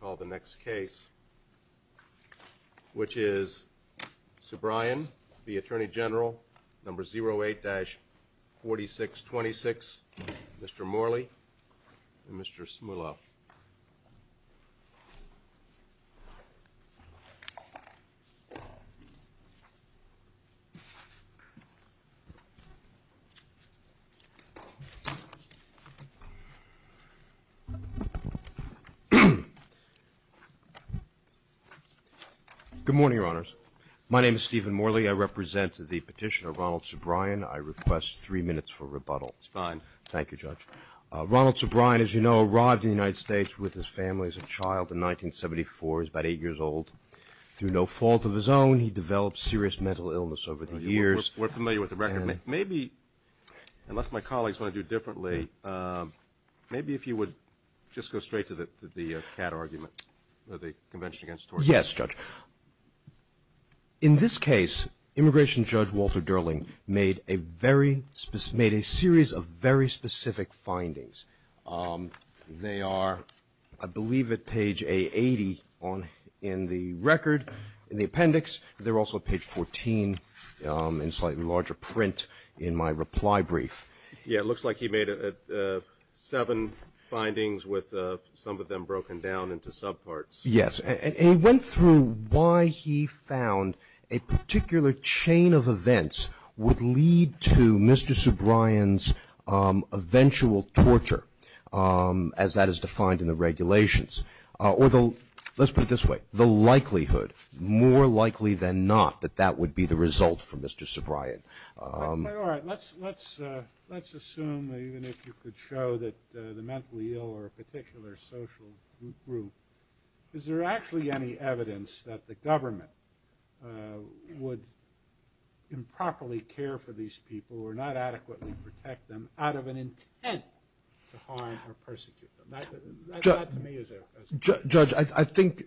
Call the next case, which is Soobrian v. Atty Gen 08-4626, Mr. Morley and Mr. Smullo. Good morning, Your Honors. My name is Stephen Morley. I represent the petitioner Ronald Soobrian. I request three minutes for rebuttal. It's fine. Thank you, Judge. Ronald Soobrian, as you know, arrived in the United States with his family as a child in 1974. He's about eight years old. Through no fault of his own, he developed serious mental illness over the years. We're familiar with the record. Maybe, unless my colleagues want to do it differently, maybe if you would just go straight to the CAD argument, the Convention Against Torture. Yes, Judge. In this case, Immigration Judge Walter Durling made a series of very specific findings. They are, I believe, at page A80 in the record, in the appendix. They're also at page 14 in slightly larger print in my reply brief. Yeah, it looks like he made seven findings, with some of them broken down into subparts. Yes. And he went through why he found a particular chain of events would lead to Mr. Soobrian's eventual torture, as that is defined in the regulations. Let's put it this way. The likelihood, more likely than not, that that would be the result for Mr. Soobrian. All right. Let's assume, even if you could show that the mentally ill or a particular social group, is there actually any evidence that the government would improperly care for these people, or not adequately protect them, out of an intent to harm or persecute them? That, to me, is a question. Judge, I think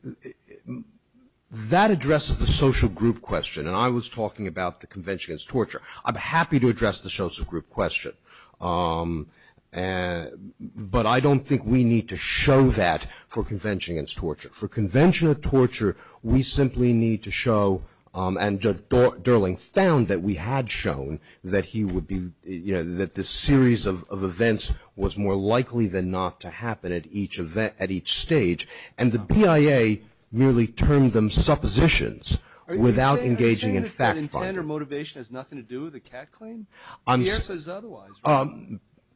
that addresses the social group question, and I was talking about the Convention Against Torture. I'm happy to address the social group question, but I don't think we need to show that for Convention Against Torture. For Convention Against Torture, we simply need to show, and Judge Durling found that we had shown, that he would be, you know, that this series of events was more likely than not to happen at each event, at each stage. And the PIA merely termed them suppositions, without engaging in fact-finding. Are you saying that intent or motivation has nothing to do with the CAC claim? The IRS says otherwise, right?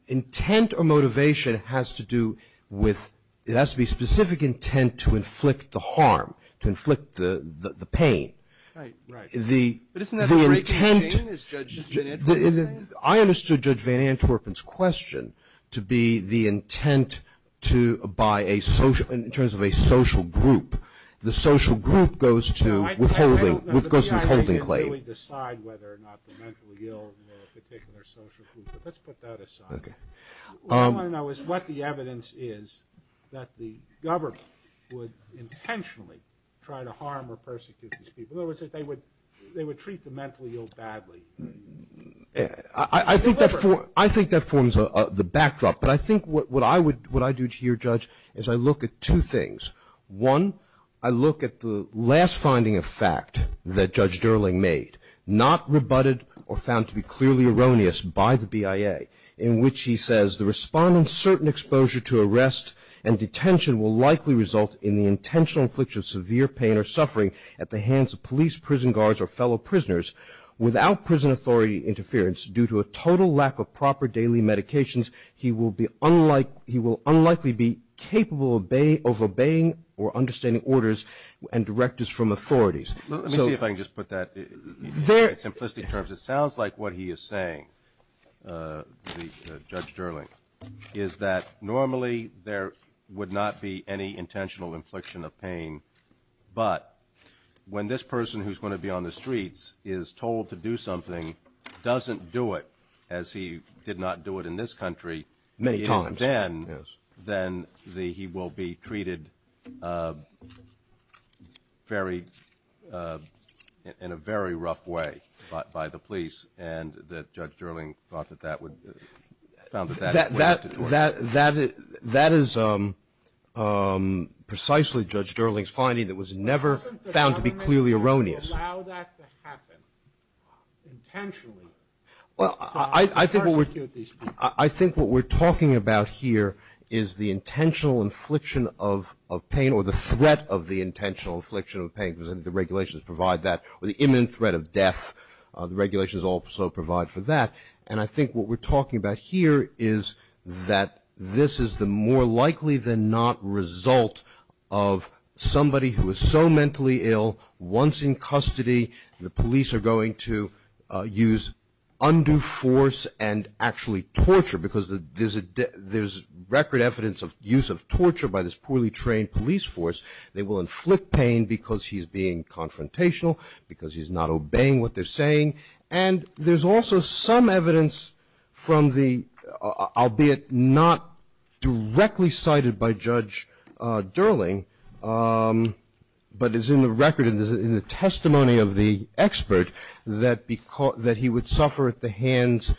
Intent or motivation has to do with, it has to be specific intent to inflict the harm, to inflict the pain. Right, right. But isn't that the same as Judge Van Antwerpen's claim? I understood Judge Van Antwerpen's question to be the intent to, by a social, in terms of a social group. The social group goes to withholding, goes to withholding claim. The PIA doesn't really decide whether or not the mentally ill are a particular social group, but let's put that aside. Okay. What I want to know is what the evidence is that the government would intentionally try to harm or persecute these people. In other words, they would treat the mentally ill badly. I think that forms the backdrop. But I think what I would, what I do to your judge is I look at two things. One, I look at the last finding of fact that Judge Durling made, not rebutted or found to be clearly erroneous by the PIA, in which he says, the respondent's certain exposure to arrest and detention will likely result in the intentional infliction of severe pain or suffering at the hands of police, prison guards, or fellow prisoners. Without prison authority interference, due to a total lack of proper daily medications, he will be unlike, he will unlikely be capable of obeying or understanding orders and directors from authorities. Let me see if I can just put that in simplistic terms. It sounds like what he is saying, Judge Durling, is that normally there would not be any intentional infliction of pain, but when this person who's going to be on the streets is told to do something, doesn't do it, as he did not do it in this country, many times, then he will be treated very, in a very rough way by the police, and that Judge Durling thought that that would, found that that would have to do it. That is precisely Judge Durling's finding that was never found to be clearly erroneous. Doesn't the government allow that to happen intentionally to persecute these people? I think what we're talking about here is the intentional infliction of pain, or the threat of the intentional infliction of pain, because the regulations provide that, or the imminent threat of death, the regulations also provide for that, and I think what we're talking about here is that this is the more likely than not result of somebody who is so mentally ill, once in custody, the police are going to use undue force and actually torture, because there's record evidence of use of torture by this poorly trained police force. They will inflict pain because he's being confrontational, because he's not obeying what they're saying, and there's also some evidence from the, albeit not directly cited by Judge Durling, but is in the record, in the testimony of the expert, that he would suffer at the hands,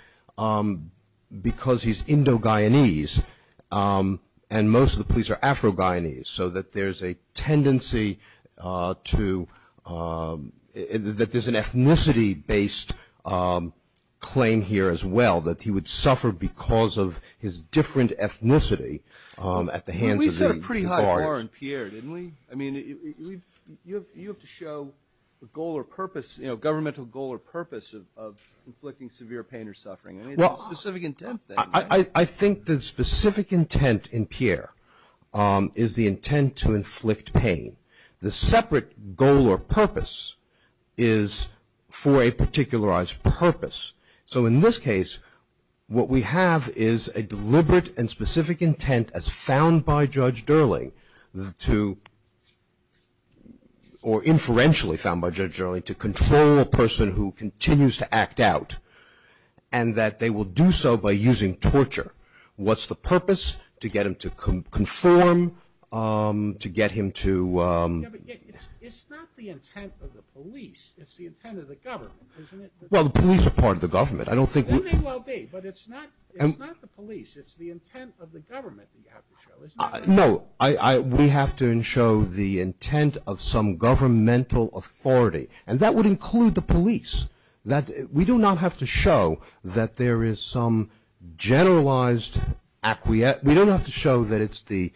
because he's Indo-Guyanese, and most of the police are Afro-Guyanese, so that there's a tendency to, that there's an ethnicity-based claim here as well, that he would suffer because of his different ethnicity at the hands of the guards. I mean, you have to show the goal or purpose, you know, governmental goal or purpose of inflicting severe pain or suffering. I mean, it's a specific intent thing. I think the specific intent in Pierre is the intent to inflict pain. The separate goal or purpose is for a particularized purpose. So in this case, what we have is a deliberate and specific intent as found by Judge Durling to, or inferentially found by Judge Durling, to control a person who continues to act out, and that they will do so by using torture. What's the purpose? To get him to conform, to get him to... Yeah, but it's not the intent of the police. It's the intent of the government, isn't it? Well, the police are part of the government. I don't think... Then they will be, but it's not the police. It's the intent of the government that you have to show, isn't it? No, we have to show the intent of some governmental authority, and that would include the police. We do not have to show that there is some generalized... We don't have to show that it's the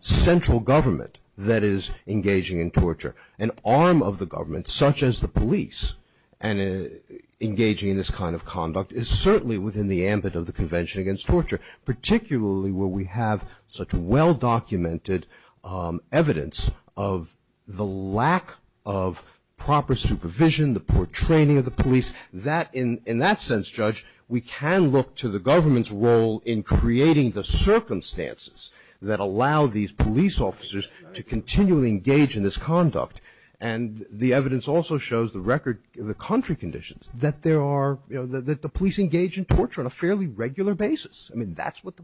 central government that is engaging in torture. An arm of the government, such as the police, engaging in this kind of conduct, is certainly within the ambit of the Convention Against Torture, particularly where we have such well-documented evidence of the lack of proper supervision, the poor training of the police. In that sense, Judge, we can look to the government's role in creating the circumstances that allow these police officers to continually engage in this conduct. And the evidence also shows the record, the contrary conditions, that there are, you know, that the police engage in torture on a fairly regular basis. I mean, that's what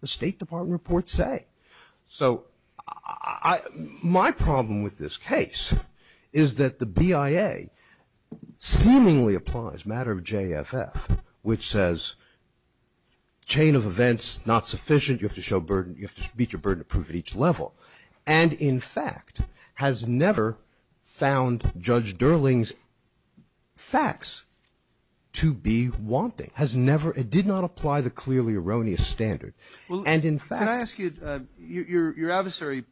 the State Department reports say. So my problem with this case is that the BIA seemingly applies, matter of JFF, which says chain of events not sufficient. You have to show burden. You have to beat your burden to prove at each level. And, in fact, has never found Judge Durling's facts to be wanting. Has never... It did not apply the clearly erroneous standard. And, in fact... Roberts. Can I ask you... Your adversary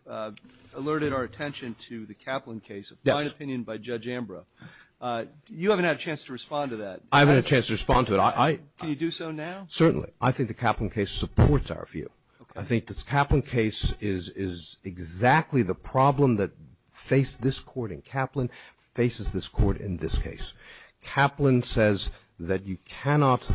alerted our attention to the Kaplan case, a fine opinion by Judge Ambrough. You haven't had a chance to respond to that. I haven't had a chance to respond to it. Can you do so now? Certainly. I think the Kaplan case supports our view. Okay. I think this Kaplan case is exactly the problem that faced this court in Kaplan, faces this court in this case. Kaplan says that you cannot...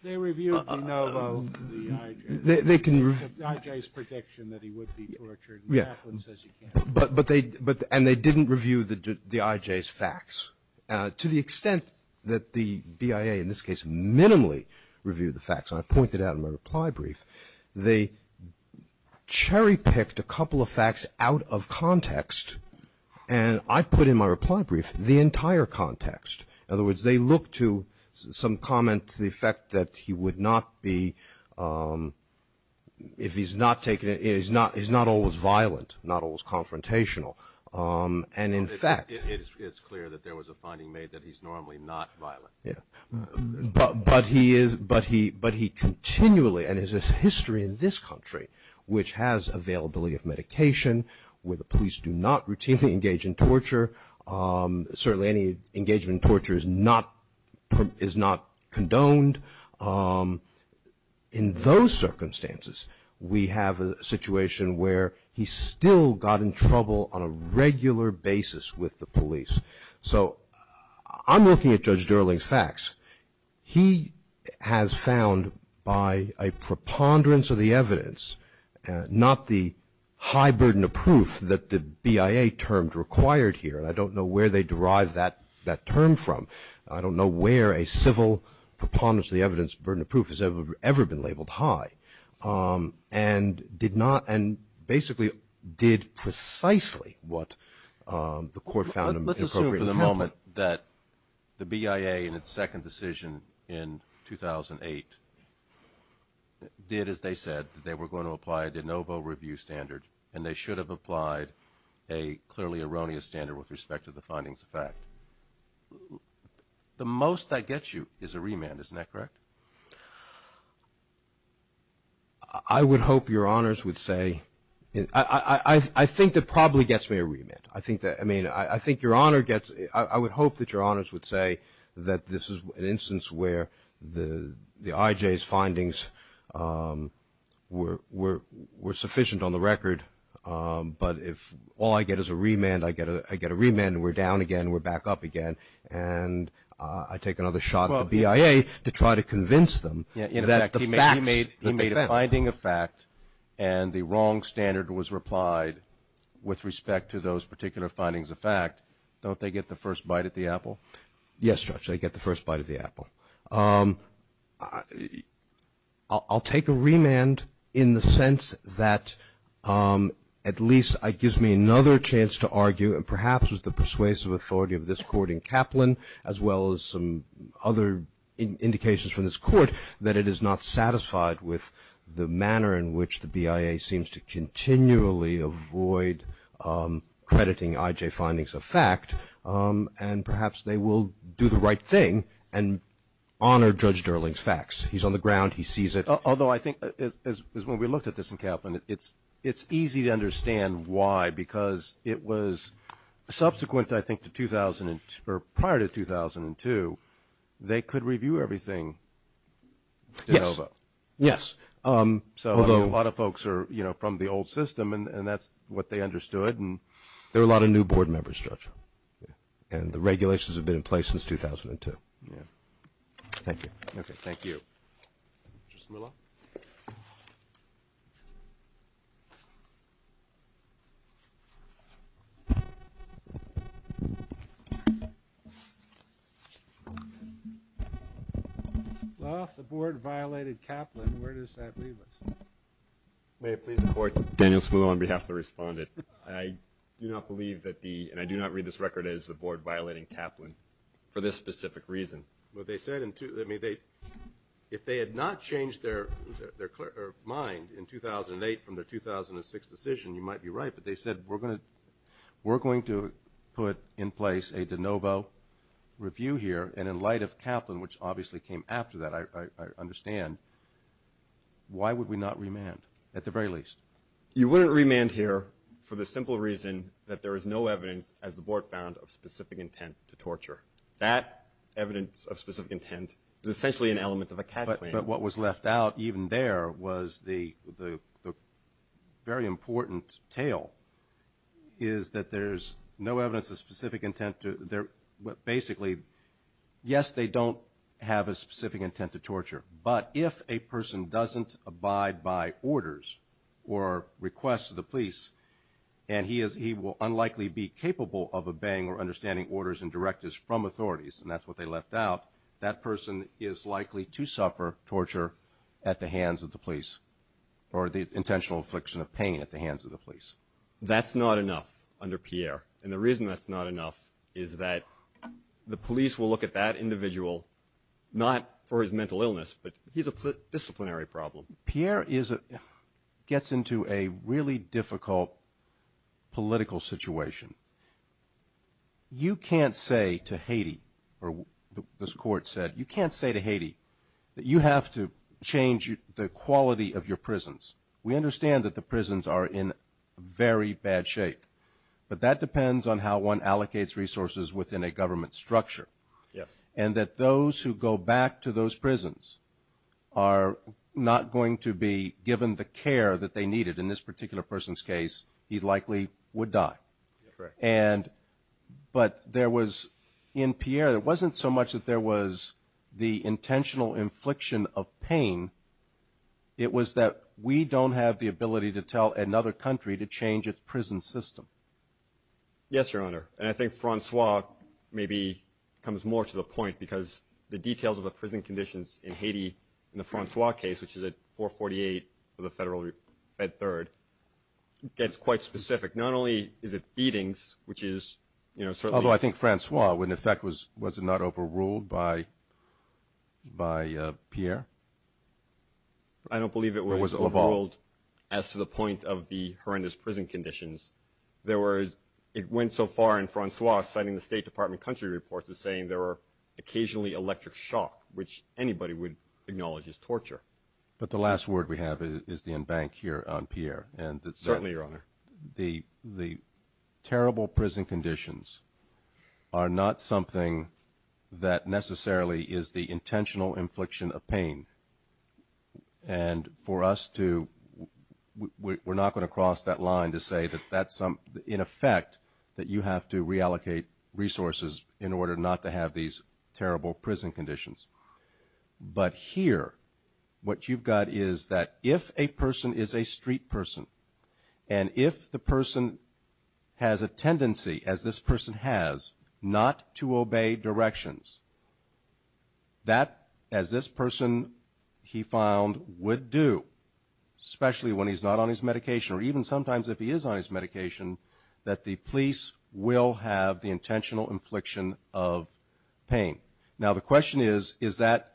They reviewed, you know, the IJ. They can... The IJ's prediction that he would be tortured. Yeah. Kaplan says he can't. And they didn't review the IJ's facts. To the extent that the BIA, in this case, minimally reviewed the facts, and I pointed out in my reply brief, they cherry-picked a couple of facts out of context, and I put in my reply brief the entire context. In other words, they looked to some comment to the effect that he would not be... And in fact... It's clear that there was a finding made that he's normally not violent. Yeah. But he is... But he continually, and there's a history in this country, which has availability of medication, where the police do not routinely engage in torture. Certainly any engagement in torture is not condoned. In those circumstances, we have a situation where he still got in trouble on a regular basis with the police. So I'm looking at Judge Durling's facts. He has found by a preponderance of the evidence, not the high burden of proof that the BIA termed required here, and I don't know where they derived that term from. I don't know where a civil preponderance of the evidence, burden of proof has ever been labeled high, and did not and basically did precisely what the court found appropriate. Let's assume for the moment that the BIA in its second decision in 2008 did as they said, that they were going to apply a de novo review standard, and they should have applied a clearly erroneous standard with respect to the findings of fact. The most that gets you is a remand. Isn't that correct? I would hope Your Honors would say... I think that probably gets me a remand. I think that... I mean, I think Your Honor gets... I would hope that Your Honors would say that this is an instance where the IJ's findings were sufficient on the record, but if all I get is a remand, I get a remand, and we're down again, and we're back up again, and I take another shot at the BIA to try to convince them that the facts... In effect, he made a finding of fact, and the wrong standard was replied with respect to those particular findings of fact. Don't they get the first bite of the apple? Yes, Judge, they get the first bite of the apple. I'll take a remand in the sense that at least it gives me another chance to argue, and perhaps with the persuasive authority of this Court in Kaplan, as well as some other indications from this Court, that it is not satisfied with the manner in which the BIA seems to continually avoid crediting IJ findings of fact, and perhaps they will do the right thing and honor Judge Durling's facts. He's on the ground. He sees it. Although I think, as when we looked at this in Kaplan, it's easy to understand why, because it was subsequent, I think, to prior to 2002, they could review everything de novo. Yes. So a lot of folks are from the old system, and that's what they understood. There are a lot of new Board members, Judge, and the regulations have been in place since 2002. Yes. Thank you. Thank you. Mr. Smula? Well, if the Board violated Kaplan, where does that leave us? May it please the Court? Daniel Smula on behalf of the respondent. I do not believe that the, and I do not read this record as the Board violating Kaplan for this specific reason. Well, they said in, I mean, if they had not changed their mind in 2008 from their 2006 decision, you might be right, but they said we're going to put in place a de novo review here, and in light of Kaplan, which obviously came after that, I understand, why would we not remand, at the very least? You wouldn't remand here for the simple reason that there is no evidence, as the Board found, of specific intent to torture. That evidence of specific intent is essentially an element of a Kaplan. But what was left out even there was the very important tale, is that there's no evidence of specific intent to, basically, yes, they don't have a specific intent to torture. But if a person doesn't abide by orders or requests of the police, and he will unlikely be capable of obeying or understanding orders and directives from authorities, and that's what they left out, that person is likely to suffer torture at the hands of the police, or the intentional affliction of pain at the hands of the police. That's not enough under Pierre. And the reason that's not enough is that the police will look at that individual, not for his mental illness, but he's a disciplinary problem. Pierre gets into a really difficult political situation. You can't say to Haiti, or this Court said, you can't say to Haiti that you have to change the quality of your prisons. We understand that the prisons are in very bad shape, but that depends on how one allocates resources within a government structure. Yes. And that those who go back to those prisons are not going to be given the care that they needed. In this particular person's case, he likely would die. Correct. But there was, in Pierre, it wasn't so much that there was the intentional infliction of pain. It was that we don't have the ability to tell another country to change its prison system. Yes, Your Honor. And I think Francois maybe comes more to the point, because the details of the prison conditions in Haiti in the Francois case, which is at 448 of the Federal Fed Third, gets quite specific. Not only is it beatings, which is, you know, certainly. Although I think Francois, in effect, was it not overruled by Pierre? I don't believe it was overruled as to the point of the horrendous prison conditions. It went so far in Francois citing the State Department country reports as saying there were occasionally electric shock, which anybody would acknowledge is torture. But the last word we have is the embank here on Pierre. Certainly, Your Honor. The terrible prison conditions are not something that necessarily is the intentional infliction of pain. And for us to, we're not going to cross that line to say that that's some, in effect, that you have to reallocate resources in order not to have these terrible prison conditions. But here, what you've got is that if a person is a street person, and if the person has a tendency, as this person has, not to obey directions, that, as this person, he found, would do, especially when he's not on his medication, or even sometimes if he is on his medication, that the police will have the intentional infliction of pain. Now, the question is, is that,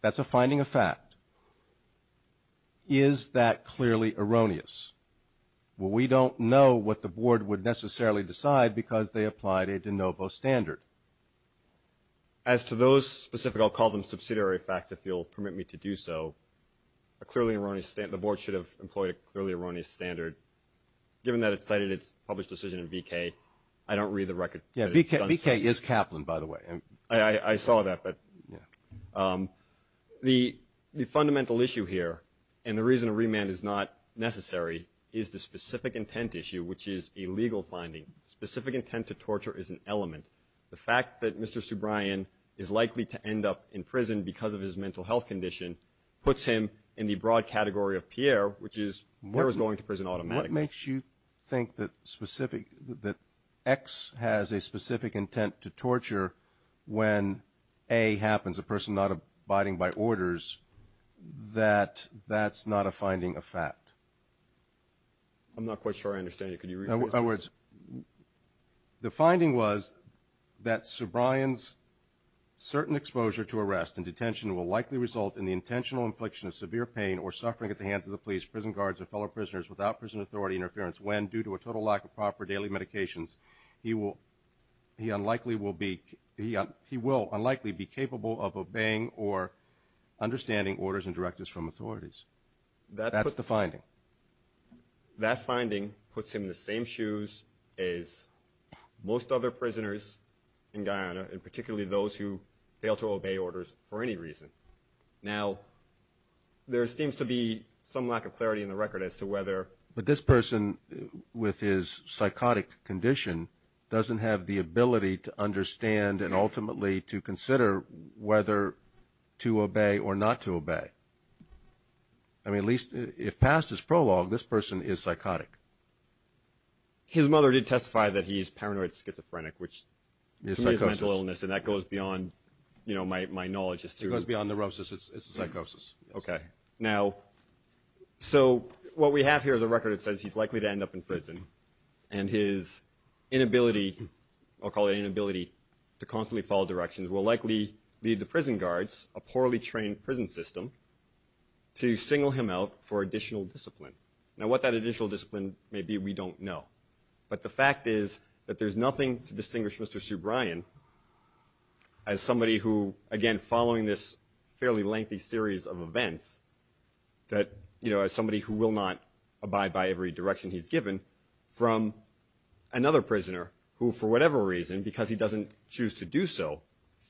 that's a finding of fact. Is that clearly erroneous? Well, we don't know what the Board would necessarily decide because they applied a de novo standard. As to those specific, I'll call them subsidiary facts if you'll permit me to do so, a clearly erroneous, the Board should have employed a clearly erroneous standard. Given that it cited its published decision in VK, I don't read the record. Yeah, VK is Kaplan, by the way. I saw that. The fundamental issue here, and the reason a remand is not necessary, is the specific intent issue, which is a legal finding. Specific intent to torture is an element. The fact that Mr. Subraian is likely to end up in prison because of his mental health condition puts him in the broad category of Pierre, which is, he was going to prison automatically. It makes you think that specific, that X has a specific intent to torture when A happens, a person not abiding by orders, that that's not a finding of fact. I'm not quite sure I understand you. Could you rephrase that? In other words, the finding was that Subraian's certain exposure to arrest and detention will likely result in the intentional infliction of severe pain or suffering at the hands of the police, prison guards, or fellow prisoners without prison authority interference when, due to a total lack of proper daily medications, he will unlikely be capable of obeying or understanding orders and directives from authorities. That's the finding. That finding puts him in the same shoes as most other prisoners in Guyana, and particularly those who fail to obey orders for any reason. Now, there seems to be some lack of clarity in the record as to whether… But this person, with his psychotic condition, doesn't have the ability to understand and ultimately to consider whether to obey or not to obey. I mean, at least if past is prologue, this person is psychotic. His mother did testify that he is paranoid schizophrenic, which is mental illness, and that goes beyond my knowledge as to… It goes beyond neurosis. It's a psychosis. Okay. Now, so what we have here is a record that says he's likely to end up in prison, and his inability, I'll call it inability to constantly follow directions, will likely lead the prison guards, a poorly trained prison system, to single him out for additional discipline. Now, what that additional discipline may be, we don't know. But the fact is that there's nothing to distinguish Mr. Subraian as somebody who, again, following this fairly lengthy series of events, that, you know, as somebody who will not abide by every direction he's given from another prisoner who, for whatever reason, because he doesn't choose to do so,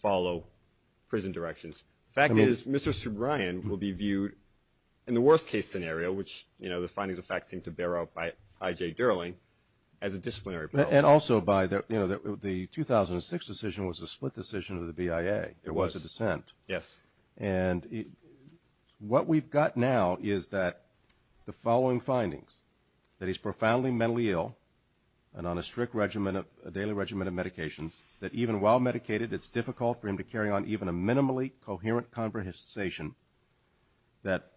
follow prison directions. The fact is Mr. Subraian will be viewed in the worst-case scenario, which, you know, the findings of fact seem to bear out by I.J. Derling, as a disciplinary problem. And also by, you know, the 2006 decision was a split decision of the BIA. It was a dissent. Yes. And what we've got now is that the following findings, that he's profoundly mentally ill and on a strict daily regimen of medications, that even while medicated, it's difficult for him to carry on even a minimally coherent conversation, that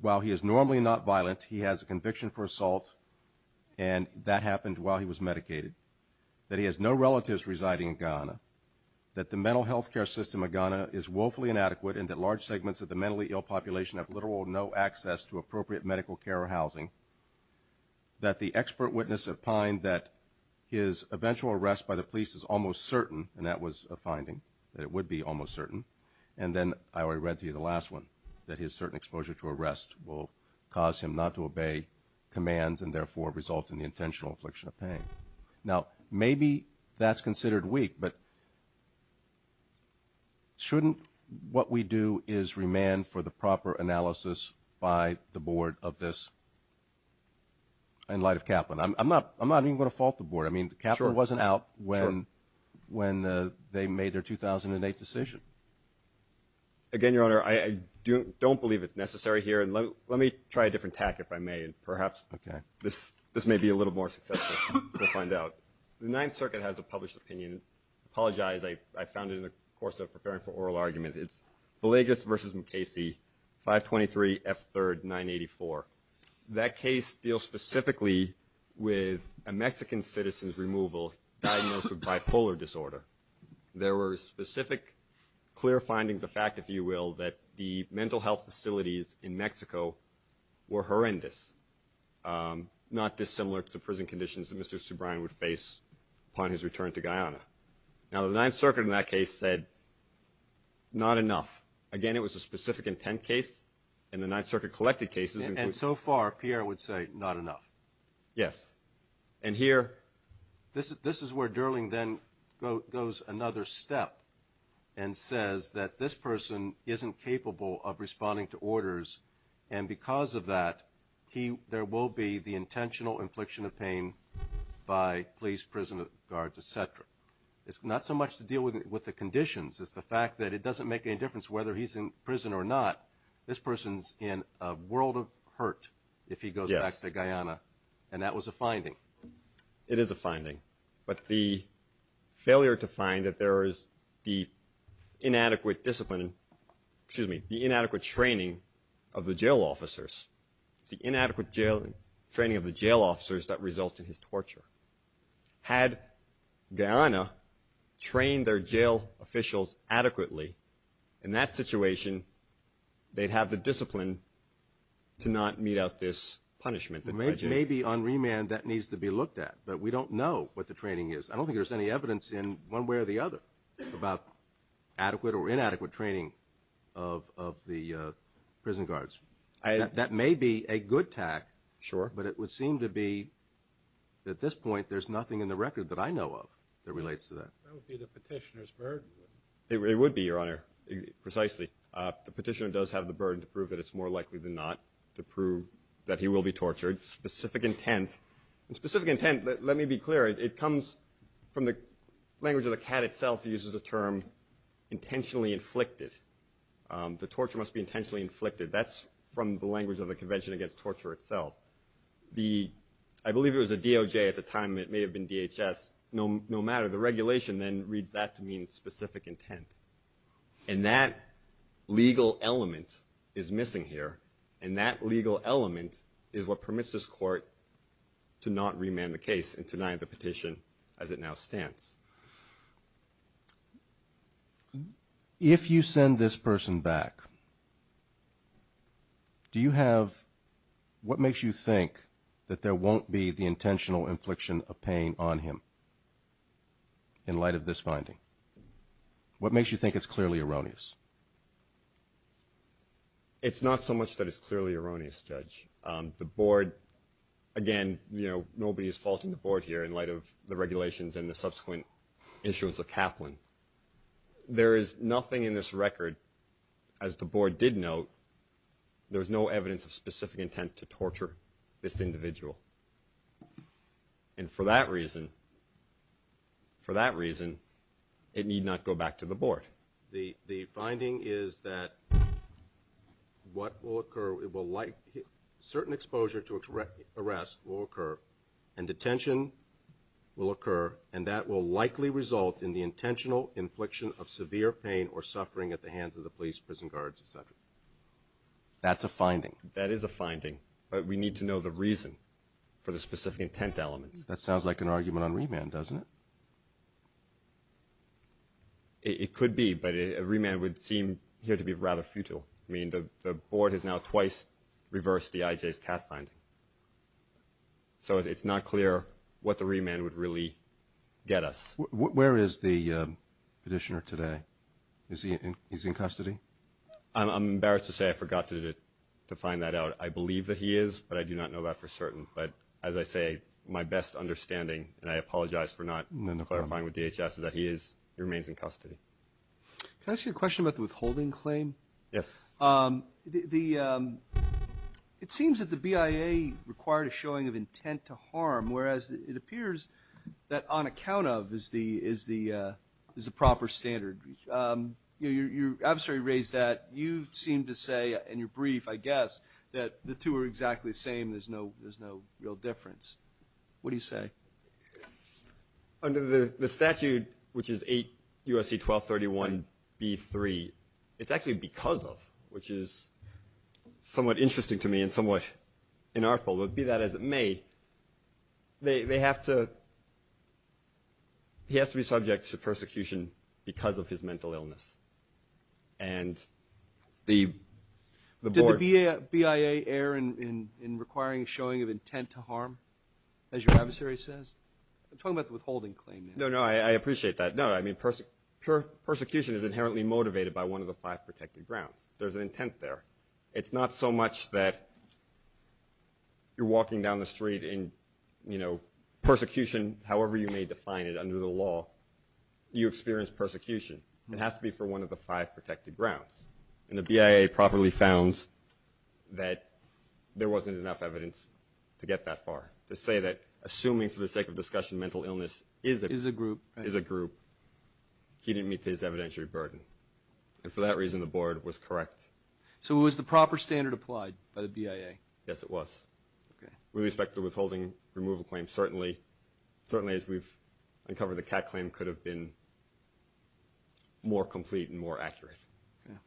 while he is normally not violent, he has a conviction for assault, and that happened while he was medicated, that he has no relatives residing in Ghana, that the mental health care system of Ghana is woefully inadequate and that large segments of the mentally ill population have literal no access to appropriate medical care or housing, that the expert witness of Pine, that his eventual arrest by the police is almost certain, and that was a finding, that it would be almost certain, and then I already read to you the last one, that his certain exposure to arrest will cause him not to obey commands and therefore result in the intentional affliction of pain. Now, maybe that's considered weak, but shouldn't what we do is remand for the proper analysis by the board of this in light of Kaplan? I'm not even going to fault the board. I mean, Kaplan wasn't out when they made their 2008 decision. Again, Your Honor, I don't believe it's necessary here, and let me try a different tack, if I may, and perhaps this may be a little more successful. We'll find out. The Ninth Circuit has a published opinion. I apologize. I found it in the course of preparing for oral argument. It's Villegas v. McKasey, 523 F. 3rd, 984. That case deals specifically with a Mexican citizen's removal diagnosed with bipolar disorder. There were specific clear findings, a fact, if you will, that the mental health facilities in Mexico were horrendous, not dissimilar to prison conditions that Mr. Subrian would face upon his return to Guyana. Now, the Ninth Circuit in that case said not enough. Again, it was a specific intent case, and the Ninth Circuit collected cases. And so far, Pierre would say not enough. Yes. And here, this is where Durling then goes another step and says that this person isn't capable of responding to orders, and because of that, there will be the intentional infliction of pain by police, prison guards, et cetera. It's not so much to deal with the conditions. It's the fact that it doesn't make any difference whether he's in prison or not. This person's in a world of hurt if he goes back to Guyana, and that was a finding. It is a finding. But the failure to find that there is the inadequate discipline, excuse me, the inadequate training of the jail officers, it's the inadequate training of the jail officers that results in his torture. Had Guyana trained their jail officials adequately, in that situation, they'd have the discipline to not mete out this punishment. Maybe on remand that needs to be looked at, but we don't know what the training is. I don't think there's any evidence in one way or the other about adequate or inadequate training of the prison guards. That may be a good tact, but it would seem to be, at this point, there's nothing in the record that I know of that relates to that. That would be the petitioner's burden. It would be, Your Honor, precisely. The petitioner does have the burden to prove that it's more likely than not to prove that he will be tortured. Specific intent. Specific intent, let me be clear, it comes from the language of the CAT itself. It uses the term intentionally inflicted. The torture must be intentionally inflicted. That's from the language of the Convention Against Torture itself. I believe it was a DOJ at the time. It may have been DHS. No matter. The regulation then reads that to mean specific intent. And that legal element is missing here. And that legal element is what permits this court to not remand the case and deny the petition as it now stands. If you send this person back, do you have what makes you think that there won't be the intentional infliction of pain on him in light of this finding? What makes you think it's clearly erroneous? It's not so much that it's clearly erroneous, Judge. The Board, again, you know, nobody is faulting the Board here in light of the regulations and the subsequent issuance of Kaplan. There is nothing in this record, as the Board did note, there's no evidence of specific intent to torture this individual. And for that reason, for that reason, it need not go back to the Board. The finding is that what will occur, it will like certain exposure to arrest will occur and detention will occur and that will likely result in the intentional infliction of severe pain or suffering at the hands of the police, prison guards, et cetera. That is a finding. But we need to know the reason for the specific intent element. That sounds like an argument on remand, doesn't it? It could be, but a remand would seem here to be rather futile. I mean, the Board has now twice reversed the IJ's cat finding. So it's not clear what the remand would really get us. Where is the petitioner today? Is he in custody? I'm embarrassed to say I forgot to find that out. I believe that he is, but I do not know that for certain. But as I say, my best understanding, and I apologize for not clarifying with DHS, is that he remains in custody. Can I ask you a question about the withholding claim? Yes. It seems that the BIA required a showing of intent to harm, whereas it appears that on account of is the proper standard. I'm sorry to raise that. You seem to say, and you're brief, I guess, that the two are exactly the same. There's no real difference. What do you say? Under the statute, which is 8 U.S.C. 1231 B.3, it's actually because of, which is somewhat interesting to me and somewhat inartful, but be that as it may, they have to, he has to be subject to persecution because of his mental illness. Did the BIA err in requiring a showing of intent to harm, as your adversary says? I'm talking about the withholding claim. No, no, I appreciate that. No, I mean, persecution is inherently motivated by one of the five protected grounds. There's an intent there. It's not so much that you're walking down the street and, you know, persecution, however you may define it under the law, you experience persecution. It has to be for one of the five protected grounds, and the BIA properly found that there wasn't enough evidence to get that far, to say that assuming for the sake of discussion mental illness is a group, he didn't meet his evidentiary burden, and for that reason the board was correct. So it was the proper standard applied by the BIA? Yes, it was. Okay. With respect to the withholding removal claim, certainly as we've uncovered the CAC claim could have been more complete and more accurate. Okay.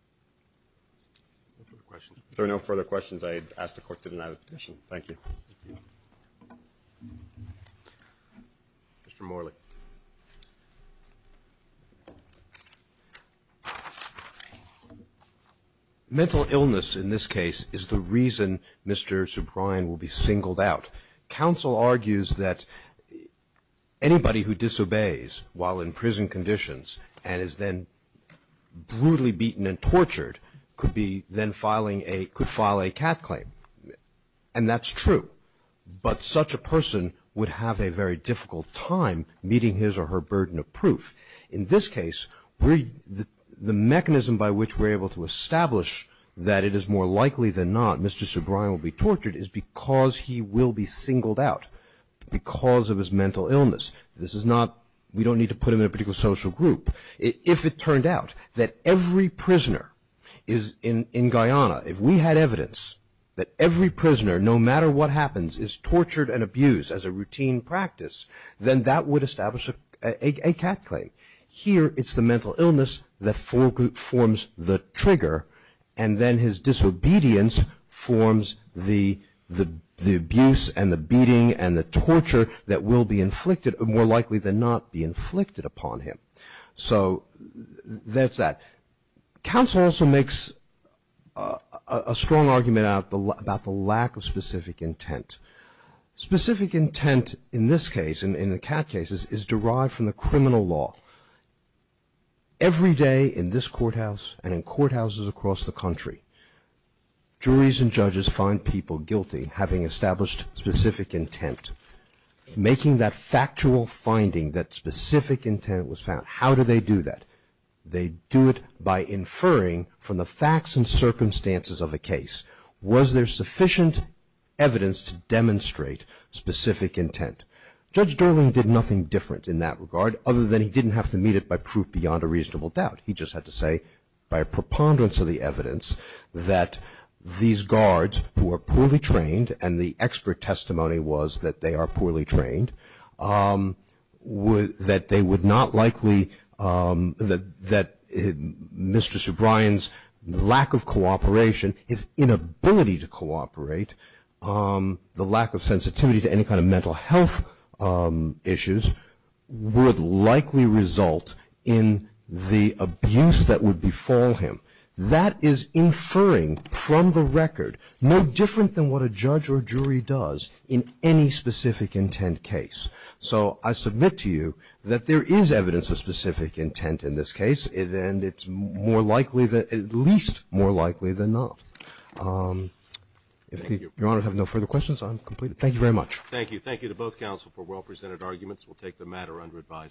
No further questions? If there are no further questions, I ask the court to deny the petition. Thank you. Mr. Morley. Mental illness, in this case, is the reason Mr. Subrian will be singled out. Counsel argues that anybody who disobeys while in prison conditions and is then brutally beaten and tortured could file a CAC claim, and that's true, but such a person would have a very difficult time meeting his or her burden of proof. In this case, the mechanism by which we're able to establish that it is more likely than not Mr. Subrian will be tortured is because he will be singled out because of his mental illness. This is not we don't need to put him in a particular social group. If it turned out that every prisoner in Guyana, if we had evidence that every prisoner, no matter what happens, is tortured and abused as a routine practice, then that would establish a CAC claim. Here it's the mental illness that forms the trigger, and then his disobedience forms the abuse and the beating and the torture that will be inflicted, more likely than not, be inflicted upon him. So that's that. Counsel also makes a strong argument about the lack of specific intent. Specific intent in this case, in the CAT cases, is derived from the criminal law. Every day in this courthouse and in courthouses across the country, juries and judges find people guilty having established specific intent, making that factual finding that specific intent was found. How do they do that? They do it by inferring from the facts and circumstances of a case. Was there sufficient evidence to demonstrate specific intent? Judge Durling did nothing different in that regard, other than he didn't have to meet it by proof beyond a reasonable doubt. He just had to say, by a preponderance of the evidence, that these guards who are poorly trained, and the expert testimony was that they are poorly trained, that they would not likely, that Mr. Subrian's lack of cooperation, his inability to cooperate, the lack of sensitivity to any kind of mental health issues, would likely result in the abuse that would befall him. That is inferring from the record no different than what a judge or jury does in any specific intent case. So I submit to you that there is evidence of specific intent in this case, and it's more likely, at least more likely than not. If Your Honor has no further questions, I'm completed. Thank you very much. Thank you. Thank you to both counsel for well-presented arguments. We'll take the matter under advisory.